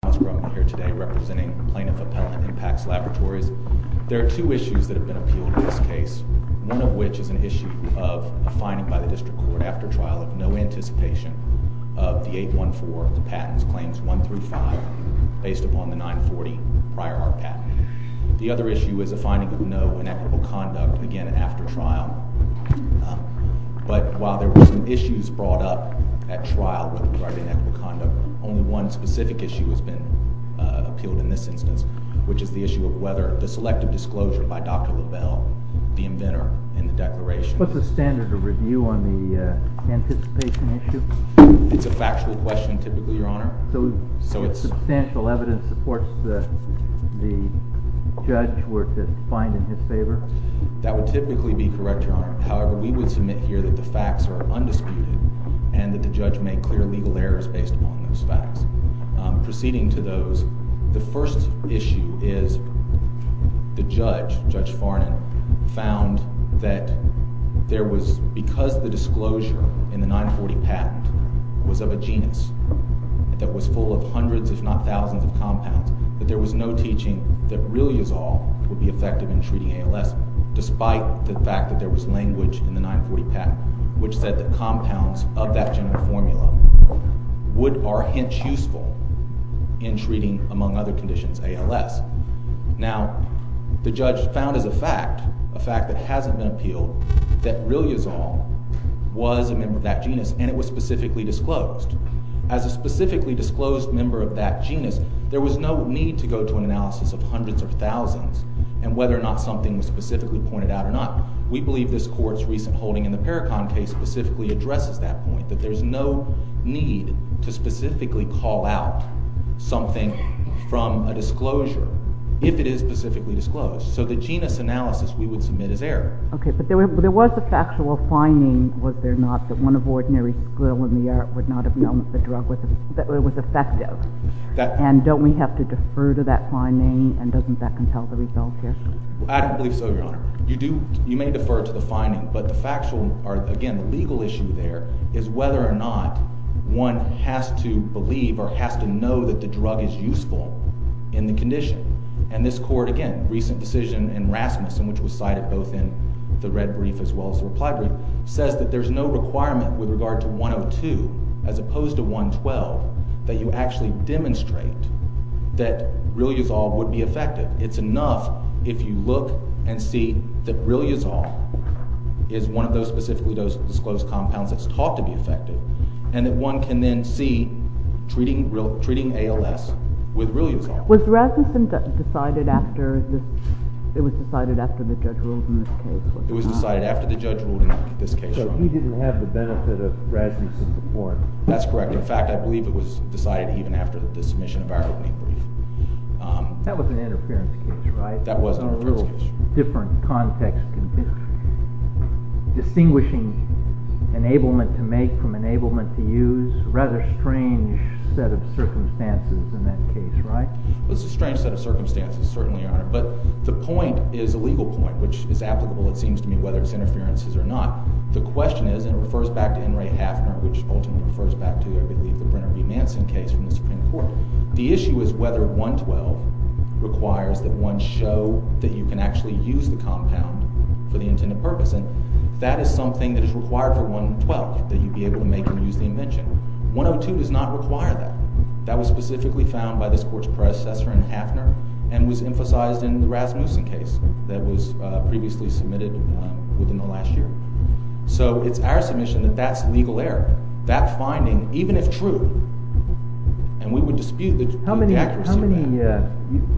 Thomas Grumman here today representing Plaintiff Appellant in Pax Laboratories. There are two issues that have been appealed in this case, one of which is an issue of a finding by the District Court after trial of no anticipation of the 814 of the patents, claims 1 through 5, based upon the 940 prior art patent. The other issue is a finding of no inequitable conduct, again after trial. But while there were some issues brought up at trial regarding a specific issue has been appealed in this instance, which is the issue of whether the selective disclosure by Dr. Lavelle, the inventor, in the declaration. What's the standard of review on the anticipation issue? It's a factual question typically, Your Honor. So substantial evidence supports that the judge were to find in his favor? That would typically be correct, Your Honor. However, we would submit here that the facts are undisputed and that the judge made clear legal errors based upon those facts. Proceeding to those, the first issue is the judge, Judge Farnan, found that there was, because the disclosure in the 940 patent was of a genus that was full of hundreds if not thousands of compounds, that there was no teaching that really is all would be effective in treating ALS, despite the fact that there was language in the 940 patent which said that compounds of that general formula would are hence useful in treating, among other conditions, ALS. Now, the judge found as a fact, a fact that hasn't been appealed, that really is all was a member of that genus and it was specifically disclosed. As a specifically disclosed member of that genus, there was no need to go to an analysis of hundreds of thousands and whether or not something was specifically pointed out or not. We believe this court's recent holding in the Paracon case specifically addresses that point, that there's no need to specifically call out something from a disclosure, if it is specifically disclosed. So the genus analysis we would submit as error. Okay, but there was a factual finding, was there not, that one of ordinary skill in the art would not have known that the drug was effective. And don't we have to defer to that finding and doesn't that compel the result here? I don't believe so, Your Honor. You do, we defer to the finding, but the factual, or again, the legal issue there, is whether or not one has to believe or has to know that the drug is useful in the condition. And this court, again, recent decision in Rasmussen, which was cited both in the red brief as well as the reply brief, says that there's no requirement with regard to 102 as opposed to 112, that you actually demonstrate that Realiazole would be effective. It's enough if you look and see that Realiazole is one of those specifically disclosed compounds that's taught to be effective, and that one can then see treating ALS with Realiazole. Was Rasmussen decided after, it was decided after the judge ruled in this case? It was decided after the judge ruled in this case. So he didn't have the benefit of Rasmussen's support? That's correct. In fact, I believe it was decided even after the submission of our red brief. That was an interference case, right? That was an interference case. A little different context. Distinguishing enablement to make from enablement to use, rather strange set of circumstances in that case, right? It was a strange set of circumstances, certainly, Your Honor. But the point is a legal point, which is applicable, it seems to me, whether it's interferences or not. The question is, and it refers back to N. Ray Hafner, which ultimately refers back to, I believe, the Brenner v. Manson case from the Supreme Court. The issue is whether 112 requires that one show that you can actually use the compound for the intended purpose. And that is something that is required for 112, that you be able to make and use the invention. 102 does not require that. That was specifically found by this Court's predecessor in Hafner and was emphasized in the Rasmussen case that was previously submitted within the last year. So it's our submission that that's legal error. That finding, even if true, and we would dispute the accuracy of that.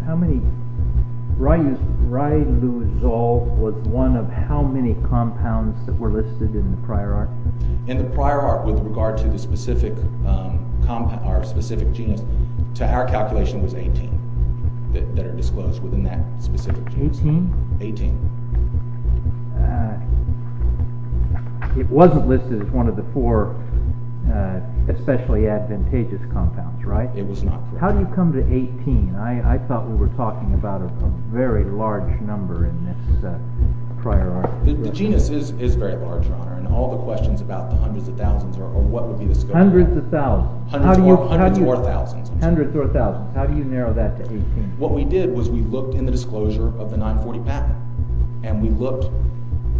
How many, Ray Luzold was one of how many compounds that were listed in the prior art? In the prior art, with regard to the specific genus, to our calculation was 18 that are disclosed within that specific genus. 18? 18. It wasn't listed as one of the four especially advantageous compounds, right? It was not. How do you come to 18? I thought we were talking about a very large number in this prior art. The genus is very large, Your Honor, and all the questions about the hundreds of thousands or what would be the scope Hundreds of thousands. Hundreds or thousands. Hundreds or thousands. How do you narrow that to 18? What we did was we looked in the disclosure of the 940 patent and we looked,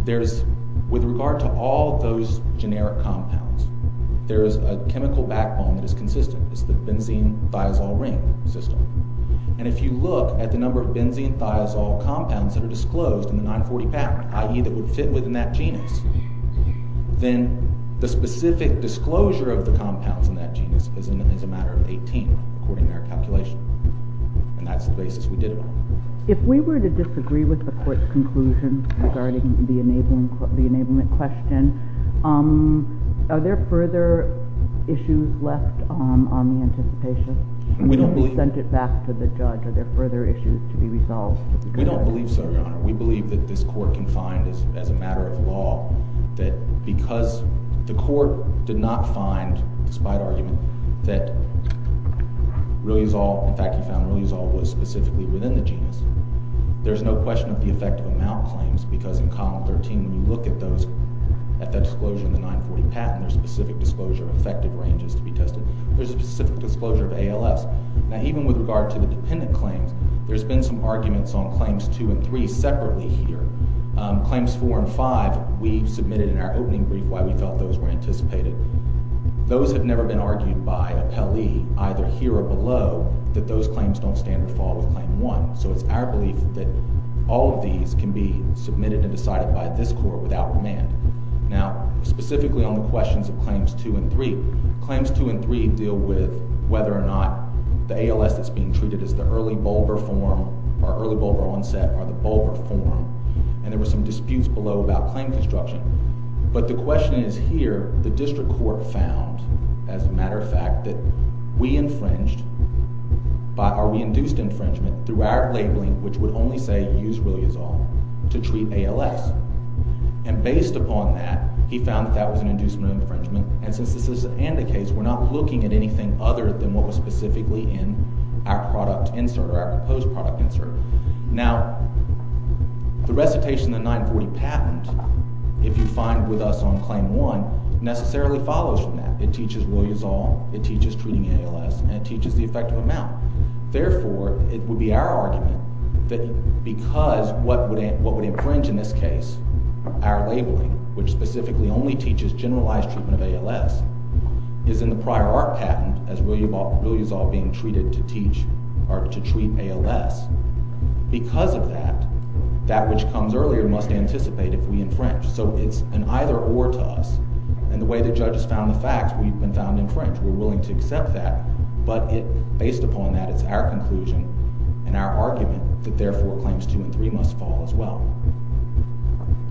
there's, with regard to all those generic compounds, there is a chemical backbone that is consistent. It's the benzene thiazole ring system. And if you look at the number of benzene thiazole compounds that are disclosed in the 940 patent i.e. that would fit within that genus, then the specific disclosure of the compounds in that genus is a matter of 18 according to our calculation. And that's the basis we did it on. If we were to disagree with the court's conclusion regarding the enablement question, are there further issues left on the anticipation until we sent it back to the judge? Are there further issues to be resolved? We don't believe so, Your Honor. We believe that this court can find, as a matter of law, that because the court did not find, despite argument, that riluzol, in fact we found riluzol was specifically within the genus, there's no question of the effective amount claims because in Column 13, when you look at those, at that disclosure in the 940 patent, there's a specific disclosure of effective ranges to be tested. There's a specific disclosure of ALFs. Now, even with regard to the dependent claims, there's been some arguments on Claims 2 and 3 separately here. Claims 4 and 5, we submitted in our opening brief why we felt those were anticipated. Those have never been argued by an appellee, either here or below, that those claims don't stand or fall with Claim 1. So it's our belief that all of these can be submitted and decided by this court without remand. Now, specifically on the questions of Claims 2 and 3, Claims 2 and 3 deal with whether or not the ALS that's being treated as the early bulbar form, or early bulbar onset, are the bulbar form. And there were some disputes below about claim construction. But the question is here, the District Court found, as a matter of fact, that we infringed by, or we induced infringement through our labeling, which would only say, use Williazol to treat ALS. And based upon that, he found that that was an inducement of infringement. And since this is an anti-case, we're not looking at anything other than what was specifically in our product insert, or our proposed product insert. Now, the recitation of the 940 patent, if you find with us on Claim 1, necessarily follows from that. It teaches Williazol, it teaches treating ALS, and it teaches the effective amount. Therefore, it would be our argument that because what would infringe in this case, our labeling, which specifically only teaches generalized treatment of ALS, is in the prior art patent, as Williazol being treated to teach, or to treat ALS. Because of that, that which comes earlier must anticipate if we infringe. So it's an either-or to us. And the way the judges found the facts, we've been found to infringe. We're willing to accept that. But based upon that, it's our conclusion, and our argument, that therefore, Claims 2 and 3 must fall as well.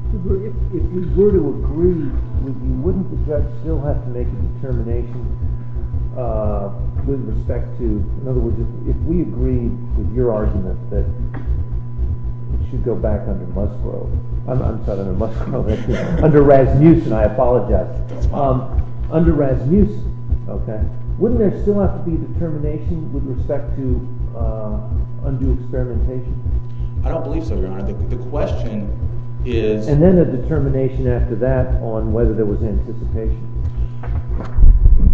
If we were to agree, would you, wouldn't the judge still have to make a determination with respect to, in other words, if we agreed with your argument that it should go back under Musgrove, I'm sorry, under Musgrove, under Rasmussen, I apologize. Under Rasmussen, okay. Wouldn't there still have to be a determination with respect to undue experimentation? I don't believe so, Your Honor. The question is... And then a determination after that on whether there was anticipation.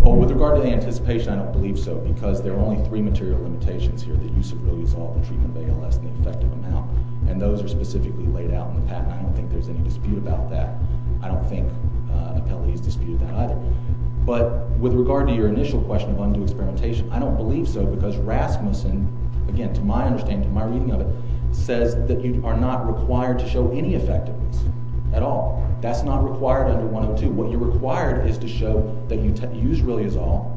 Oh, with regard to anticipation, I don't believe so, because there are only three material limitations here that use of Williazol in treatment of ALS in an effective amount. And those are specifically laid out in the patent. I don't think there's any dispute about that. I don't think an appellate has disputed that either. But with regard to your initial question of undue experimentation, I don't believe so, because Rasmussen, again, to my understanding, to my reading of it, says that you are not required to show any effectiveness at all. That's not required under 102. What you're required is to show that you use Williazol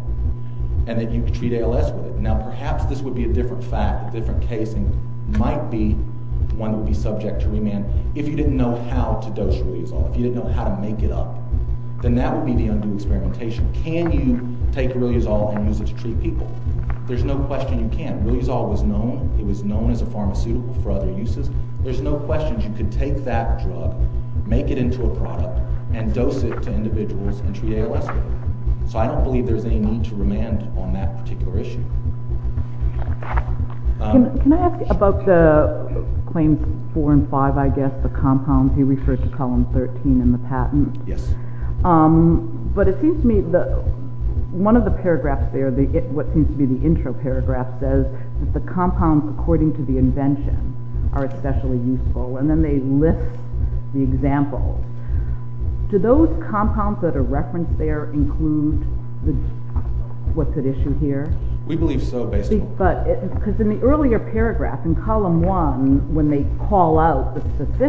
and that you treat ALS with it. Now, perhaps this would be a different fact, a different case, and might be one that would be subject to remand if you didn't know how to use it. Then that would be the undue experimentation. Can you take Williazol and use it to treat people? There's no question you can't. Williazol was known as a pharmaceutical for other uses. There's no question you can take that drug, make it into a product, and dose it to individuals and treat ALS with it. So I don't believe there's any need to remand on that particular issue. Can I ask about the claims four and five, I guess, the compounds you referred to, column 13 in the patent. Yes. But it seems to me one of the paragraphs there, what seems to be the intro paragraph says that the compounds, according to the invention, are especially useful, and then they list the examples. Do those compounds that are referenced there include what's at issue here? We believe so, basically. Because in the earlier paragraph, in column one, when they call out the compounds,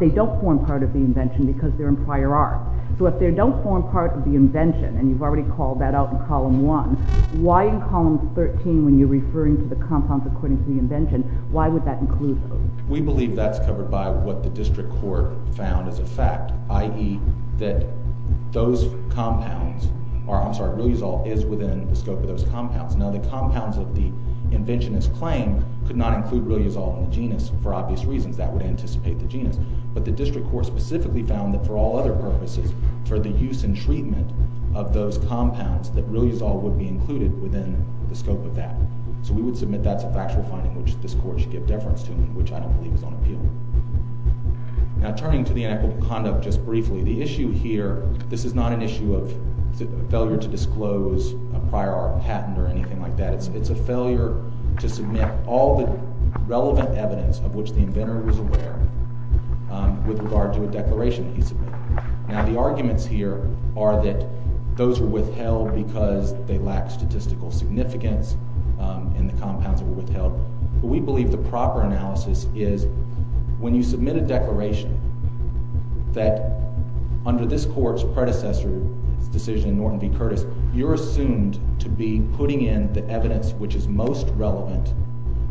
they don't form part of the invention because they're in prior art. So if they don't form part of the invention, and you've already called that out in column one, why in column 13 when you're referring to the compounds according to the invention, why would that include those? We believe that's covered by what the district court found as a fact, i.e. that those compounds, I'm sorry, Williazol is within the scope of those compounds. Now the compounds that the inventionists claim could not include Williazol in the genus, for obvious reasons, that would anticipate the genus. But the district court specifically found that for all other purposes, for the use and treatment of those compounds, that Williazol would be included within the scope of that. So we would submit that's a factual finding which this court should give deference to, which I don't believe is on appeal. Now turning to the inequitable conduct just briefly, the issue here, this is not an issue of failure to disclose a prior art patent or anything like that. It's a failure to submit all the relevant evidence of which the inventor was aware with regard to a declaration he submitted. Now the arguments here are that those were withheld because they lacked statistical significance in the compounds that were withheld. But we believe the proper analysis is when you submit a declaration that under this court's predecessor's decision, Norton v. Curtis, you're assumed to be in the evidence which is most relevant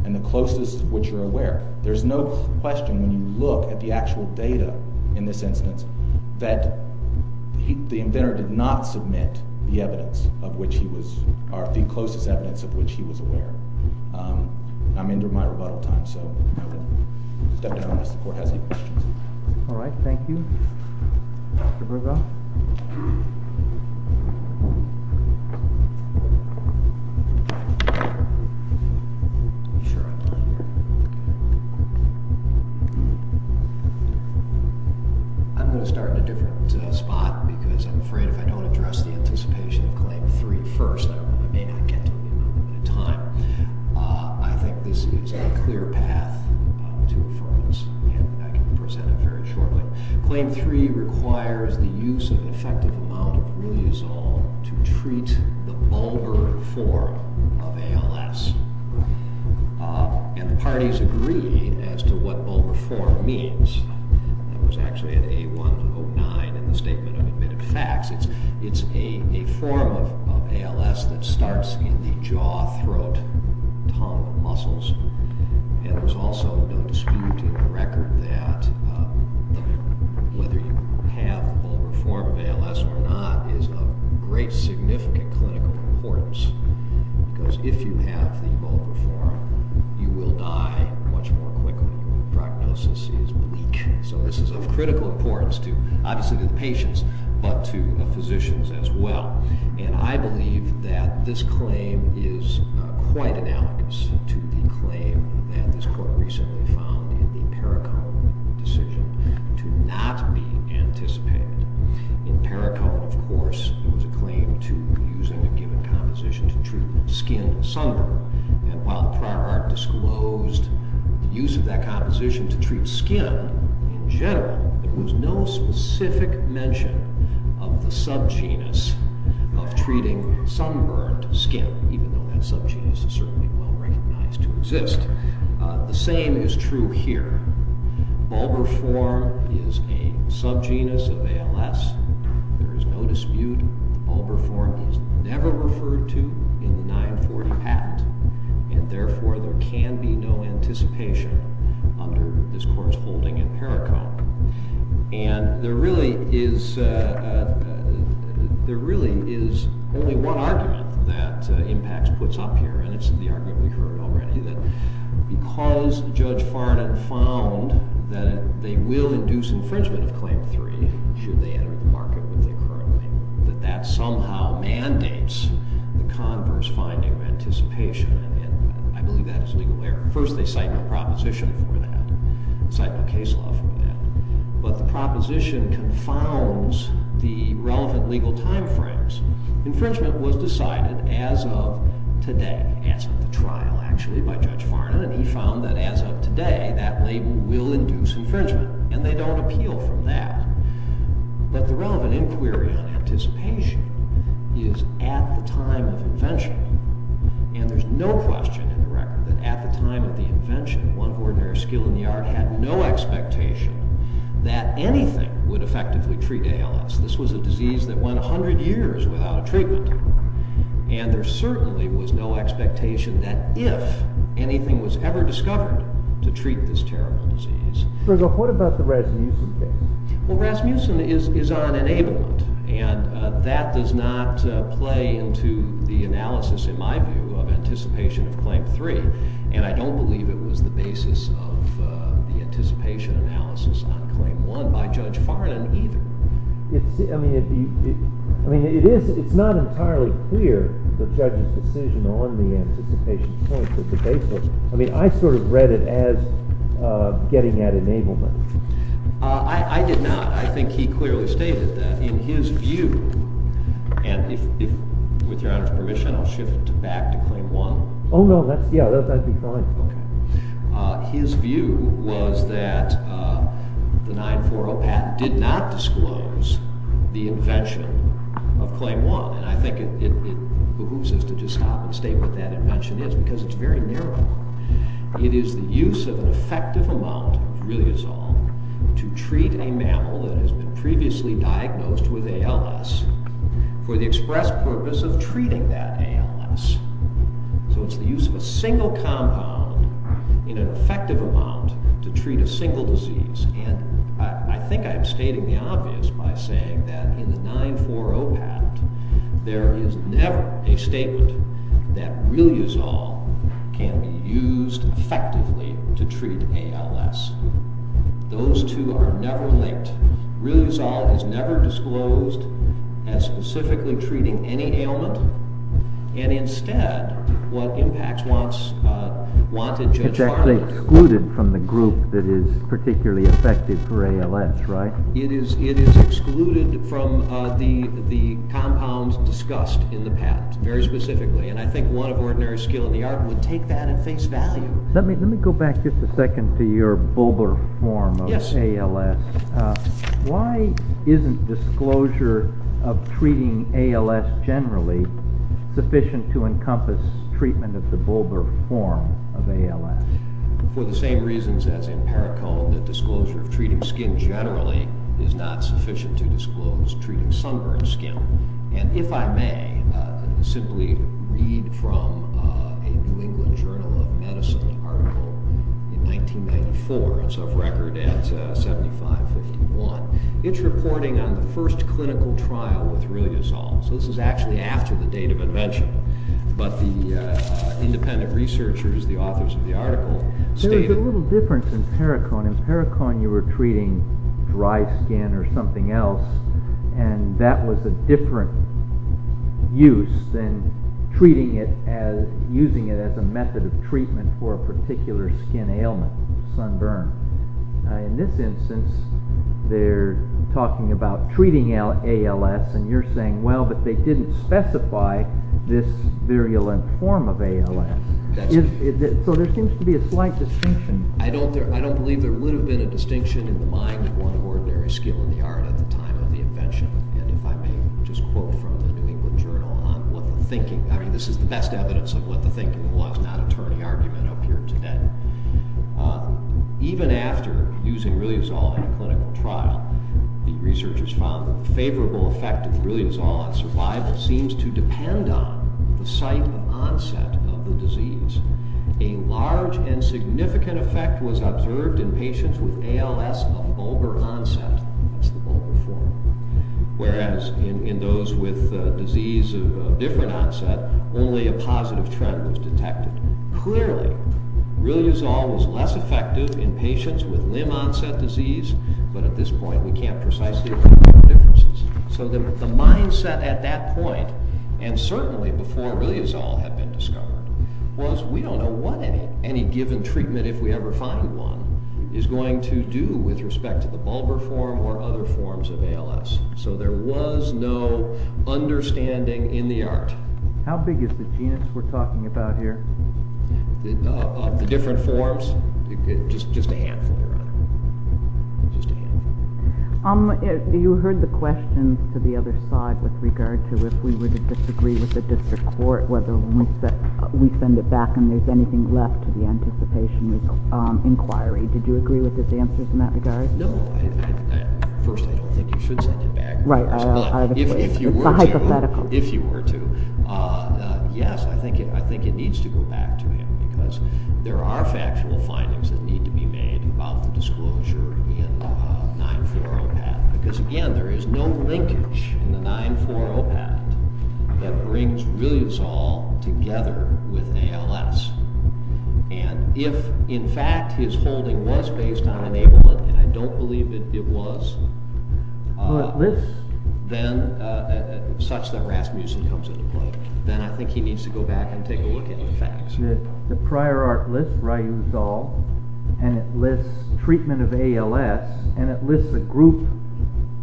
and the closest which you're aware. There's no question when you look at the actual data in this instance that the inventor did not submit the evidence of which he was, or the closest evidence of which he was aware. I'm into my rebuttal time, so step down unless the court has any questions. All right, thank you. I'm going to start in a different spot because I'm afraid if I don't address the anticipation of Claim 3 first, I may not get to you in a moment of time. I think this is a clear path to affirmance, and I can present it very shortly. Claim 3 requires the use of an effective amount of riliazole to treat the bulbar form of ALS. And the parties agree as to what bulbar form means. That was actually in A109 in the Statement of Admitted Facts. It's a form of ALS that starts in the jaw, throat, tongue muscles. And there's also no dispute in the record that whether you have the bulbar form of ALS or not is of great significant clinical importance because if you have the bulbar form, you will die much more quickly when the prognosis is bleak. So this is of critical importance to, obviously to the patients, but to the physicians as well. And I believe that this claim is quite analogous to the claim that this court recently found in the Perricone decision to not be anticipated. In Perricone, of course, there was a claim to using a given composition to treat skin sunburn. And while the prior art disclosed the use of that composition to treat skin in general, there was no specific mention of the subgenus of treating sunburn to skin, even though that subgenus is certainly well recognized to exist. The same is true here. Bulbar form is a subgenus of ALS. There is no dispute. Bulbar form is never referred to in the 940 patent. And therefore, there can be no anticipation under this court's holding in Perricone. And there really is only one argument that IMPACTS puts up here, and it's in the argument we heard already, that because Judge Farnan found that they will induce infringement of Claim 3 should they enter the market with the economy, that that somehow mandates the converse finding of anticipation. And I believe that is legal error. First, they cite no proposition for that, cite no case law for that. But the proposition confounds the infringement was decided as of today, as of the trial actually, by Judge Farnan, and he found that as of today, that label will induce infringement. And they don't appeal from that. But the relevant inquiry on anticipation is at the time of invention. And there's no question in the record that at the time of the invention, one ordinary skill in the art had no expectation that anything would effectively treat ALS. This was a disease that went 100 years without a treatment. And there certainly was no expectation that if anything was ever discovered to treat this terrible disease. So what about the Rasmussen case? Well, Rasmussen is on enablement. And that does not play into the analysis, in my view, of anticipation of Claim 3. And I don't believe it was the basis of the anticipation analysis on Claim 1 by Judge Farnan either. I mean, it's not entirely clear the judge's decision on the anticipation point of the basis. I mean, I sort of read it as getting at enablement. I did not. I think he clearly stated that. In his view, and with your Honor's permission I'll shift back to Claim 1. Oh no, that's, yeah, that'd be fine. His view was that the 940 patent did not disclose the invention of Claim 1. And I think it behooves us to just stop and state what that invention is, because it's very narrow. It is the use of an effective amount, really is all, to treat a mammal that has been previously diagnosed with ALS for the express purpose of treating that ALS. So it's the use of a single compound in an effective amount to treat a single disease. And I think I'm stating the obvious by saying that in the 940 patent there is never a statement that really is all can be used effectively to treat ALS. Those two are never linked. Really is all is never disclosed as specifically treating any ailment. And instead, what impacts wanted Judge Harland... It is excluded from the group that is particularly effective for ALS, right? It is excluded from the compounds discussed in the patent. Very specifically. And I think one of ordinary skill in the art would take that and face value. Let me go back just a second to your bulbar form of ALS. Why isn't disclosure of treating ALS generally sufficient to encompass treatment of the bulbar form of ALS? For the same reasons as in Paracol, the disclosure of treating skin generally is not sufficient to disclose treating sunburned skin. And if I may, simply read from a New England Journal of Medicine article in 1994. It's of record at 7551. It's reporting on the first clinical trial with really is all. So this is actually after the date of invention. But the independent researchers, the authors of the article stated... There was a little difference in Paracol. In Paracol you were treating dry skin or something else and that was a different use than treating it as, using it as a method of treatment for a particular skin ailment, sunburn. In this instance, they're talking about treating ALS and you're saying, well, but they didn't specify this virulent form of ALS. So there seems to be a slight distinction. I don't believe there would have been a distinction in the mind of one of ordinary skill in the art at the time of the invention. And if I may just quote from the New England Journal on what the thinking... I mean, this is the best evidence of what the thinking was, not attorney argument up here today. Even after using really is all in a clinical trial, the researchers found that the favorable effect of really is all on survival seems to depend on the site of onset of the disease. A large and significant effect was observed in patients with ALS of vulgar onset. Whereas in those with disease of different onset, only a positive trend was detected. Clearly, really is all was less effective in patients with limb onset disease, but at this point, we can't precisely... So the mindset at that point, and certainly before really is all had been discovered, was we don't know what any given treatment, if we ever find one, is going to do with respect to the vulgar form or other forms of ALS. So there was no understanding in the art. How big is the genus we're talking about here? The different forms? Just a handful, Your Honor. You heard the questions to the other side with regard to if we were to disagree with the district court, whether we send it back and there's anything left to the anticipation inquiry. Did you agree with his answers in that regard? No. First, I don't think you should send it back. Right. It's a hypothetical. If you were to, yes, I think it needs to go back to him because there are factual findings that need to be made about the disclosure in 940PAT because, again, there is no linkage in the 940PAT that brings really is all together with ALS. If, in fact, his holding was based on enablement, and I don't believe it was, then such that Rasmussen comes into play, then I think he needs to go back and take a look at the facts. The prior art list, Raouzal, and it lists treatment of ALS, and it lists a group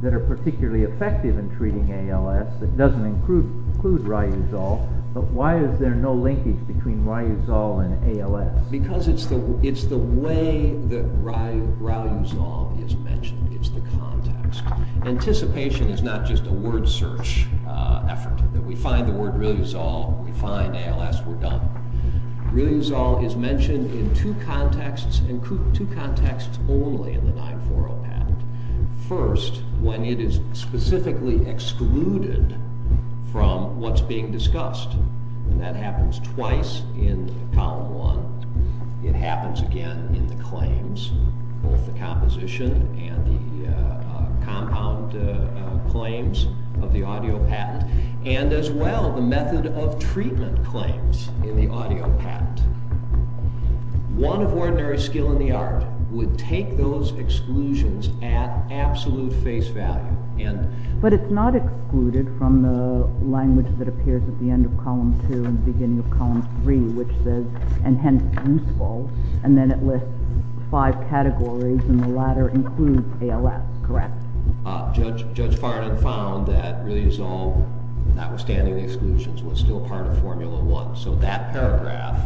that are particularly effective in treating ALS that doesn't include Raouzal, but why is there no linkage between Raouzal and ALS? Because it's the way that Raouzal is mentioned. It's the context. Anticipation is not just a word search effort. We find the word Raouzal, we find ALS, we're done. Raouzal is mentioned in two contexts, two contexts only in the 940PAT. First, when it is specifically excluded from what's being discussed, and that happens twice in column one. It happens again in the claims, both the composition and the compound claims of the audio patent, and as well the method of treatment claims in the audio patent. One of ordinary skill in the art would take those exclusions at absolute face value. But it's not excluded from the language that appears at the end of column two and beginning of column three, which says, and hence useful, and then it lists five categories, and the latter includes ALS, correct? Judge Farnan found that Raouzal, notwithstanding the exclusions, was still part of formula one. So that paragraph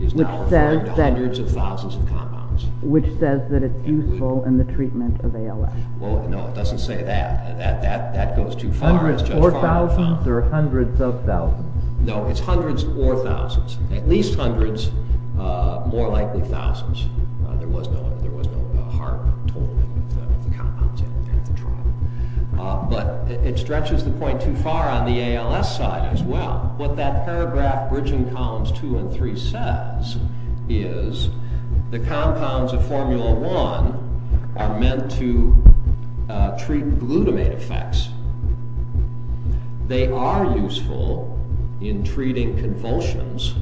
is now referring to hundreds of thousands of compounds. Which says that it's useful in the treatment of ALS. No, it doesn't say that. That goes too far. Hundreds or thousands or hundreds of thousands? No, it's hundreds or thousands. At least hundreds, more likely thousands. There was no hard totaling of the compounds at the trial. But it stretches the point too far on the ALS side as well. What that paragraph bridging columns two and three says is the compounds of formula one are meant to treat glutamate effects. They are useful in treating convulsions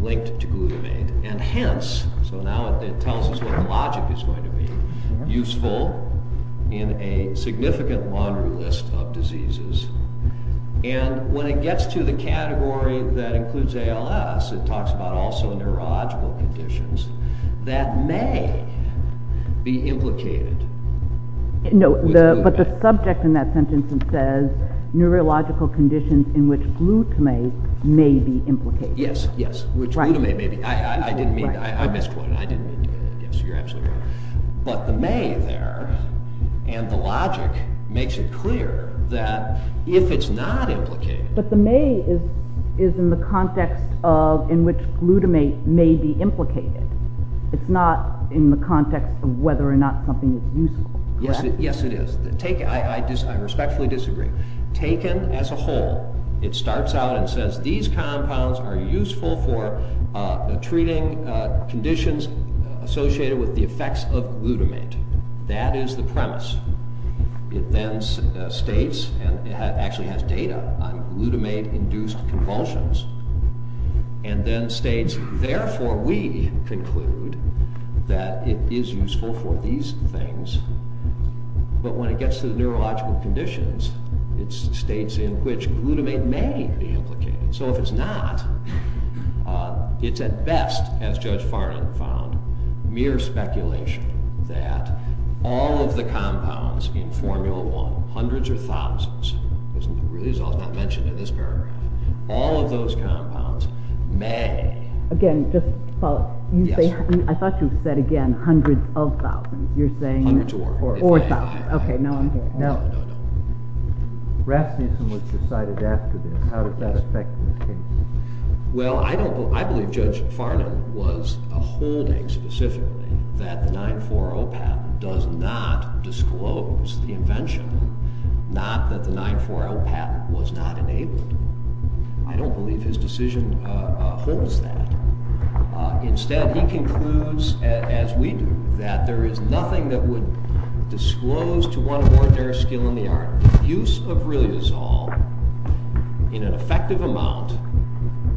linked to glutamate, and hence so now it tells us what the logic is going to be. Useful in a significant laundry list of diseases. And when it gets to the category that includes ALS it talks about also neurological conditions that may be implicated. No, but the subject in that sentence says neurological conditions in which glutamate may be implicated. Yes, yes. I misquoted. I didn't mean to. But the may there, and the logic makes it clear that if it's not implicated. But the may is in the context in which glutamate may be implicated. It's not in the context of whether or not something is useful. Yes, it is. I respectfully disagree. Taken as a whole, it starts out and says these compounds are useful for treating conditions associated with the effects of glutamate. That is the premise. It then states, and it actually has data on glutamate induced convulsions and then states therefore we conclude that it is useful for these things, but when it gets to the neurological conditions, it states in which glutamate may be implicated. So if it's not, it's at best, as Judge Farnan found, mere speculation that all of the compounds in Formula 1, hundreds or thousands, it's not mentioned in this paragraph, all of those compounds may. Again, just follow up. I thought you said again hundreds of thousands. You're saying or thousands. Okay, now I'm here. Now, Rasmussen was decided after this. How does that affect this case? Well, I believe Judge Farnan was a holding specifically that the 940 patent does not disclose the invention, not that the 940 patent was not enabled. I don't believe his decision holds that. Instead, he concludes, as we do, that there is nothing that would impair skill in the art. Use of Riliazol in an effective amount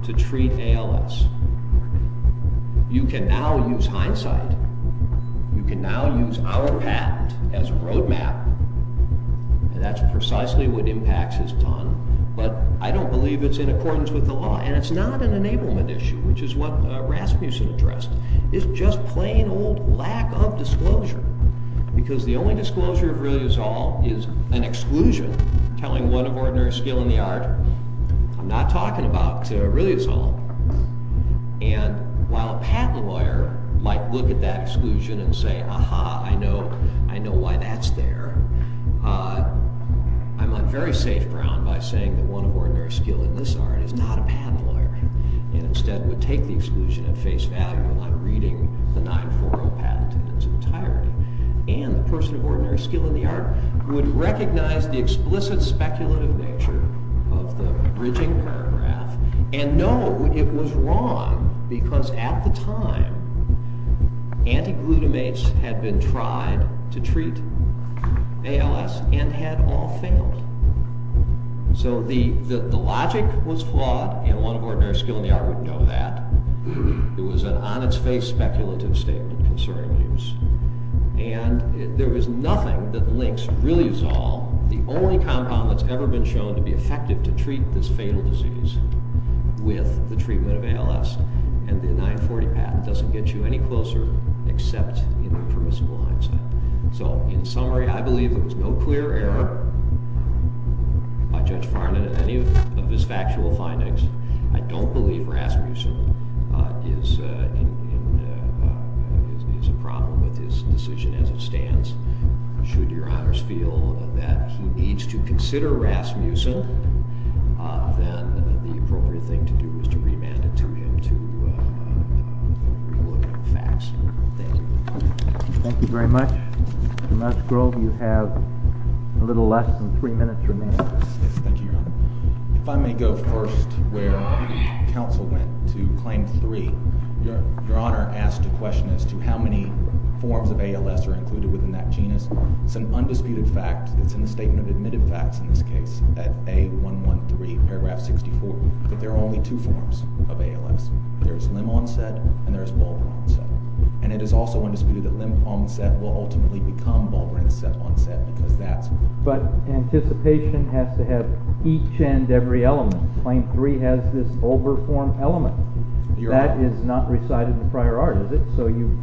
to treat ALS. You can now use hindsight. You can now use our patent as a roadmap, and that's precisely what IMPACTS has done, but I don't believe it's in accordance with the law, and it's not an enablement issue, which is what Rasmussen addressed. It's just plain old lack of disclosure, because the only disclosure of Riliazol is an exclusion telling one of ordinary skill in the art I'm not talking about to Riliazol, and while a patent lawyer might look at that exclusion and say, aha, I know why that's there, I'm on very safe ground by saying that one of ordinary skill in this art is not a patent lawyer and instead would take the exclusion and face value on reading the 940 patent in its entirety, and the person of ordinary skill in the art would recognize the explicit speculative nature of the bridging paragraph, and know it was wrong because at the time, antiglutamates had been tried to treat ALS and had all failed. So the logic was flawed, and one of ordinary skill in the art would know that. It was an on its face speculative statement concerning abuse, and there was nothing that links Riliazol, the only compound that's ever been shown to be effective to treat this fatal disease with the treatment of ALS, and the 940 patent doesn't get you any closer except in the permissible hindsight. So in summary I believe there was no clear error by Judge Farnon in any of his factual findings. I don't believe Rasmussen is a problem with his decision as it stands. Should your honors feel that he needs to consider Rasmussen, then the appropriate thing to do is to remand it to him to review the facts. Thank you. Thank you very much. Mr. Musgrove, you have a little less than three minutes remaining. Thank you, Your Honor. If I may go first where counsel went to claim three. Your Honor asked a question as to how many forms of ALS are included within that genus. It's an undisputed fact. It's in the statement of admitted facts in this case that A113 paragraph 64, that there are only two forms of ALS. There's limb-onset and there's ball-onset. And it is also undisputed that limb-onset will ultimately become ball-onset because that's... But anticipation has to have each and every element. Claim three has this over-formed element. That is not recited in the prior art, is it? So you...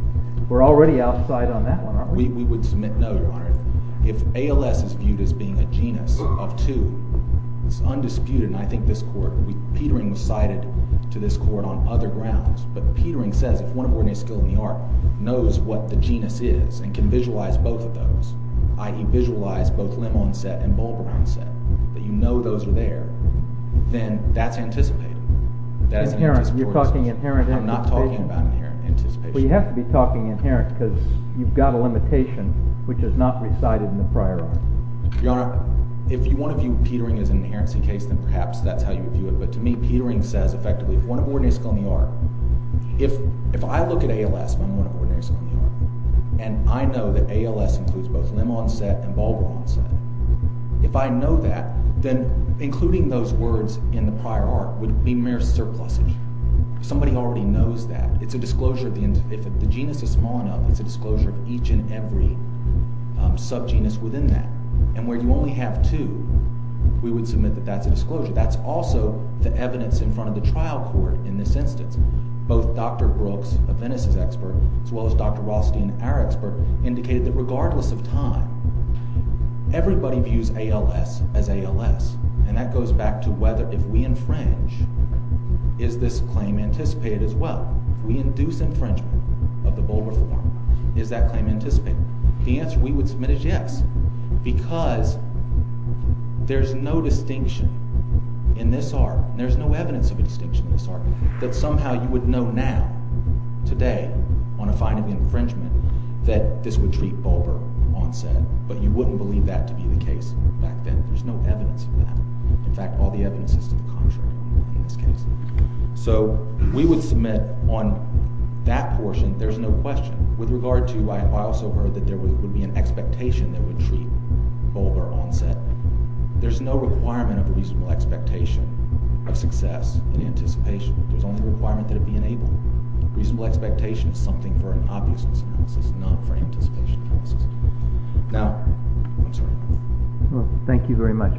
We're already outside on that one, aren't we? We would submit no, Your Honor. If ALS is viewed as being a genus of two, it's undisputed, and I think this court... Petering was cited to this court on other grounds, but Petering says if one of our new skills in the art knows what the genus is and can visualize both of those, i.e. visualize both limb-onset and ball-onset, that you know those are there, then that's anticipated. Inherent. You're talking inherent anticipation? I'm not talking about inherent anticipation. Well, you have to be talking inherent because you've got a limitation which is not recited in the prior art. Your Honor, if you want to view Petering as an inherency case, then perhaps that's how you view it. But to me, Petering says, effectively, if one of our new skills in the art... If I look at ALS, if I'm one of our new skills in the art, and I know that ALS includes both limb-onset and ball-onset, if I know that, then including those words in the prior art would be mere surpluses. Somebody already knows that. It's a disclosure. If the genus is small enough, it's a disclosure of each and every sub-genus within that. And where you only have two, we would submit that that's a disclosure. That's also the evidence in front of the trial court in this instance. Both Dr. Brooks, a Venice's expert, as well as Dr. Rothstein, our expert, indicated that regardless of time, everybody views ALS as ALS. And that goes back to whether, if we infringe, is this claim anticipated as well? We induce infringement of the Bulber form. Is that claim anticipated? The answer we would submit is yes. Because there's no distinction in this art, and there's no evidence of a distinction in this art, that somehow you would know now, today, on a finding of infringement, that this would treat Bulber onset, but you wouldn't believe that to be the case back then. There's no evidence of that. In fact, all the evidence is to the contrary in this case. So, we would submit on that portion, there's no question. With regard to, I also heard that there would be an expectation that would treat Bulber onset. There's no requirement of a reasonable expectation of success in anticipation. There's only a requirement that it be enabled. A reasonable expectation is something for an obviousness analysis, not for anticipation analysis. Now, I'm sorry. Thank you very much.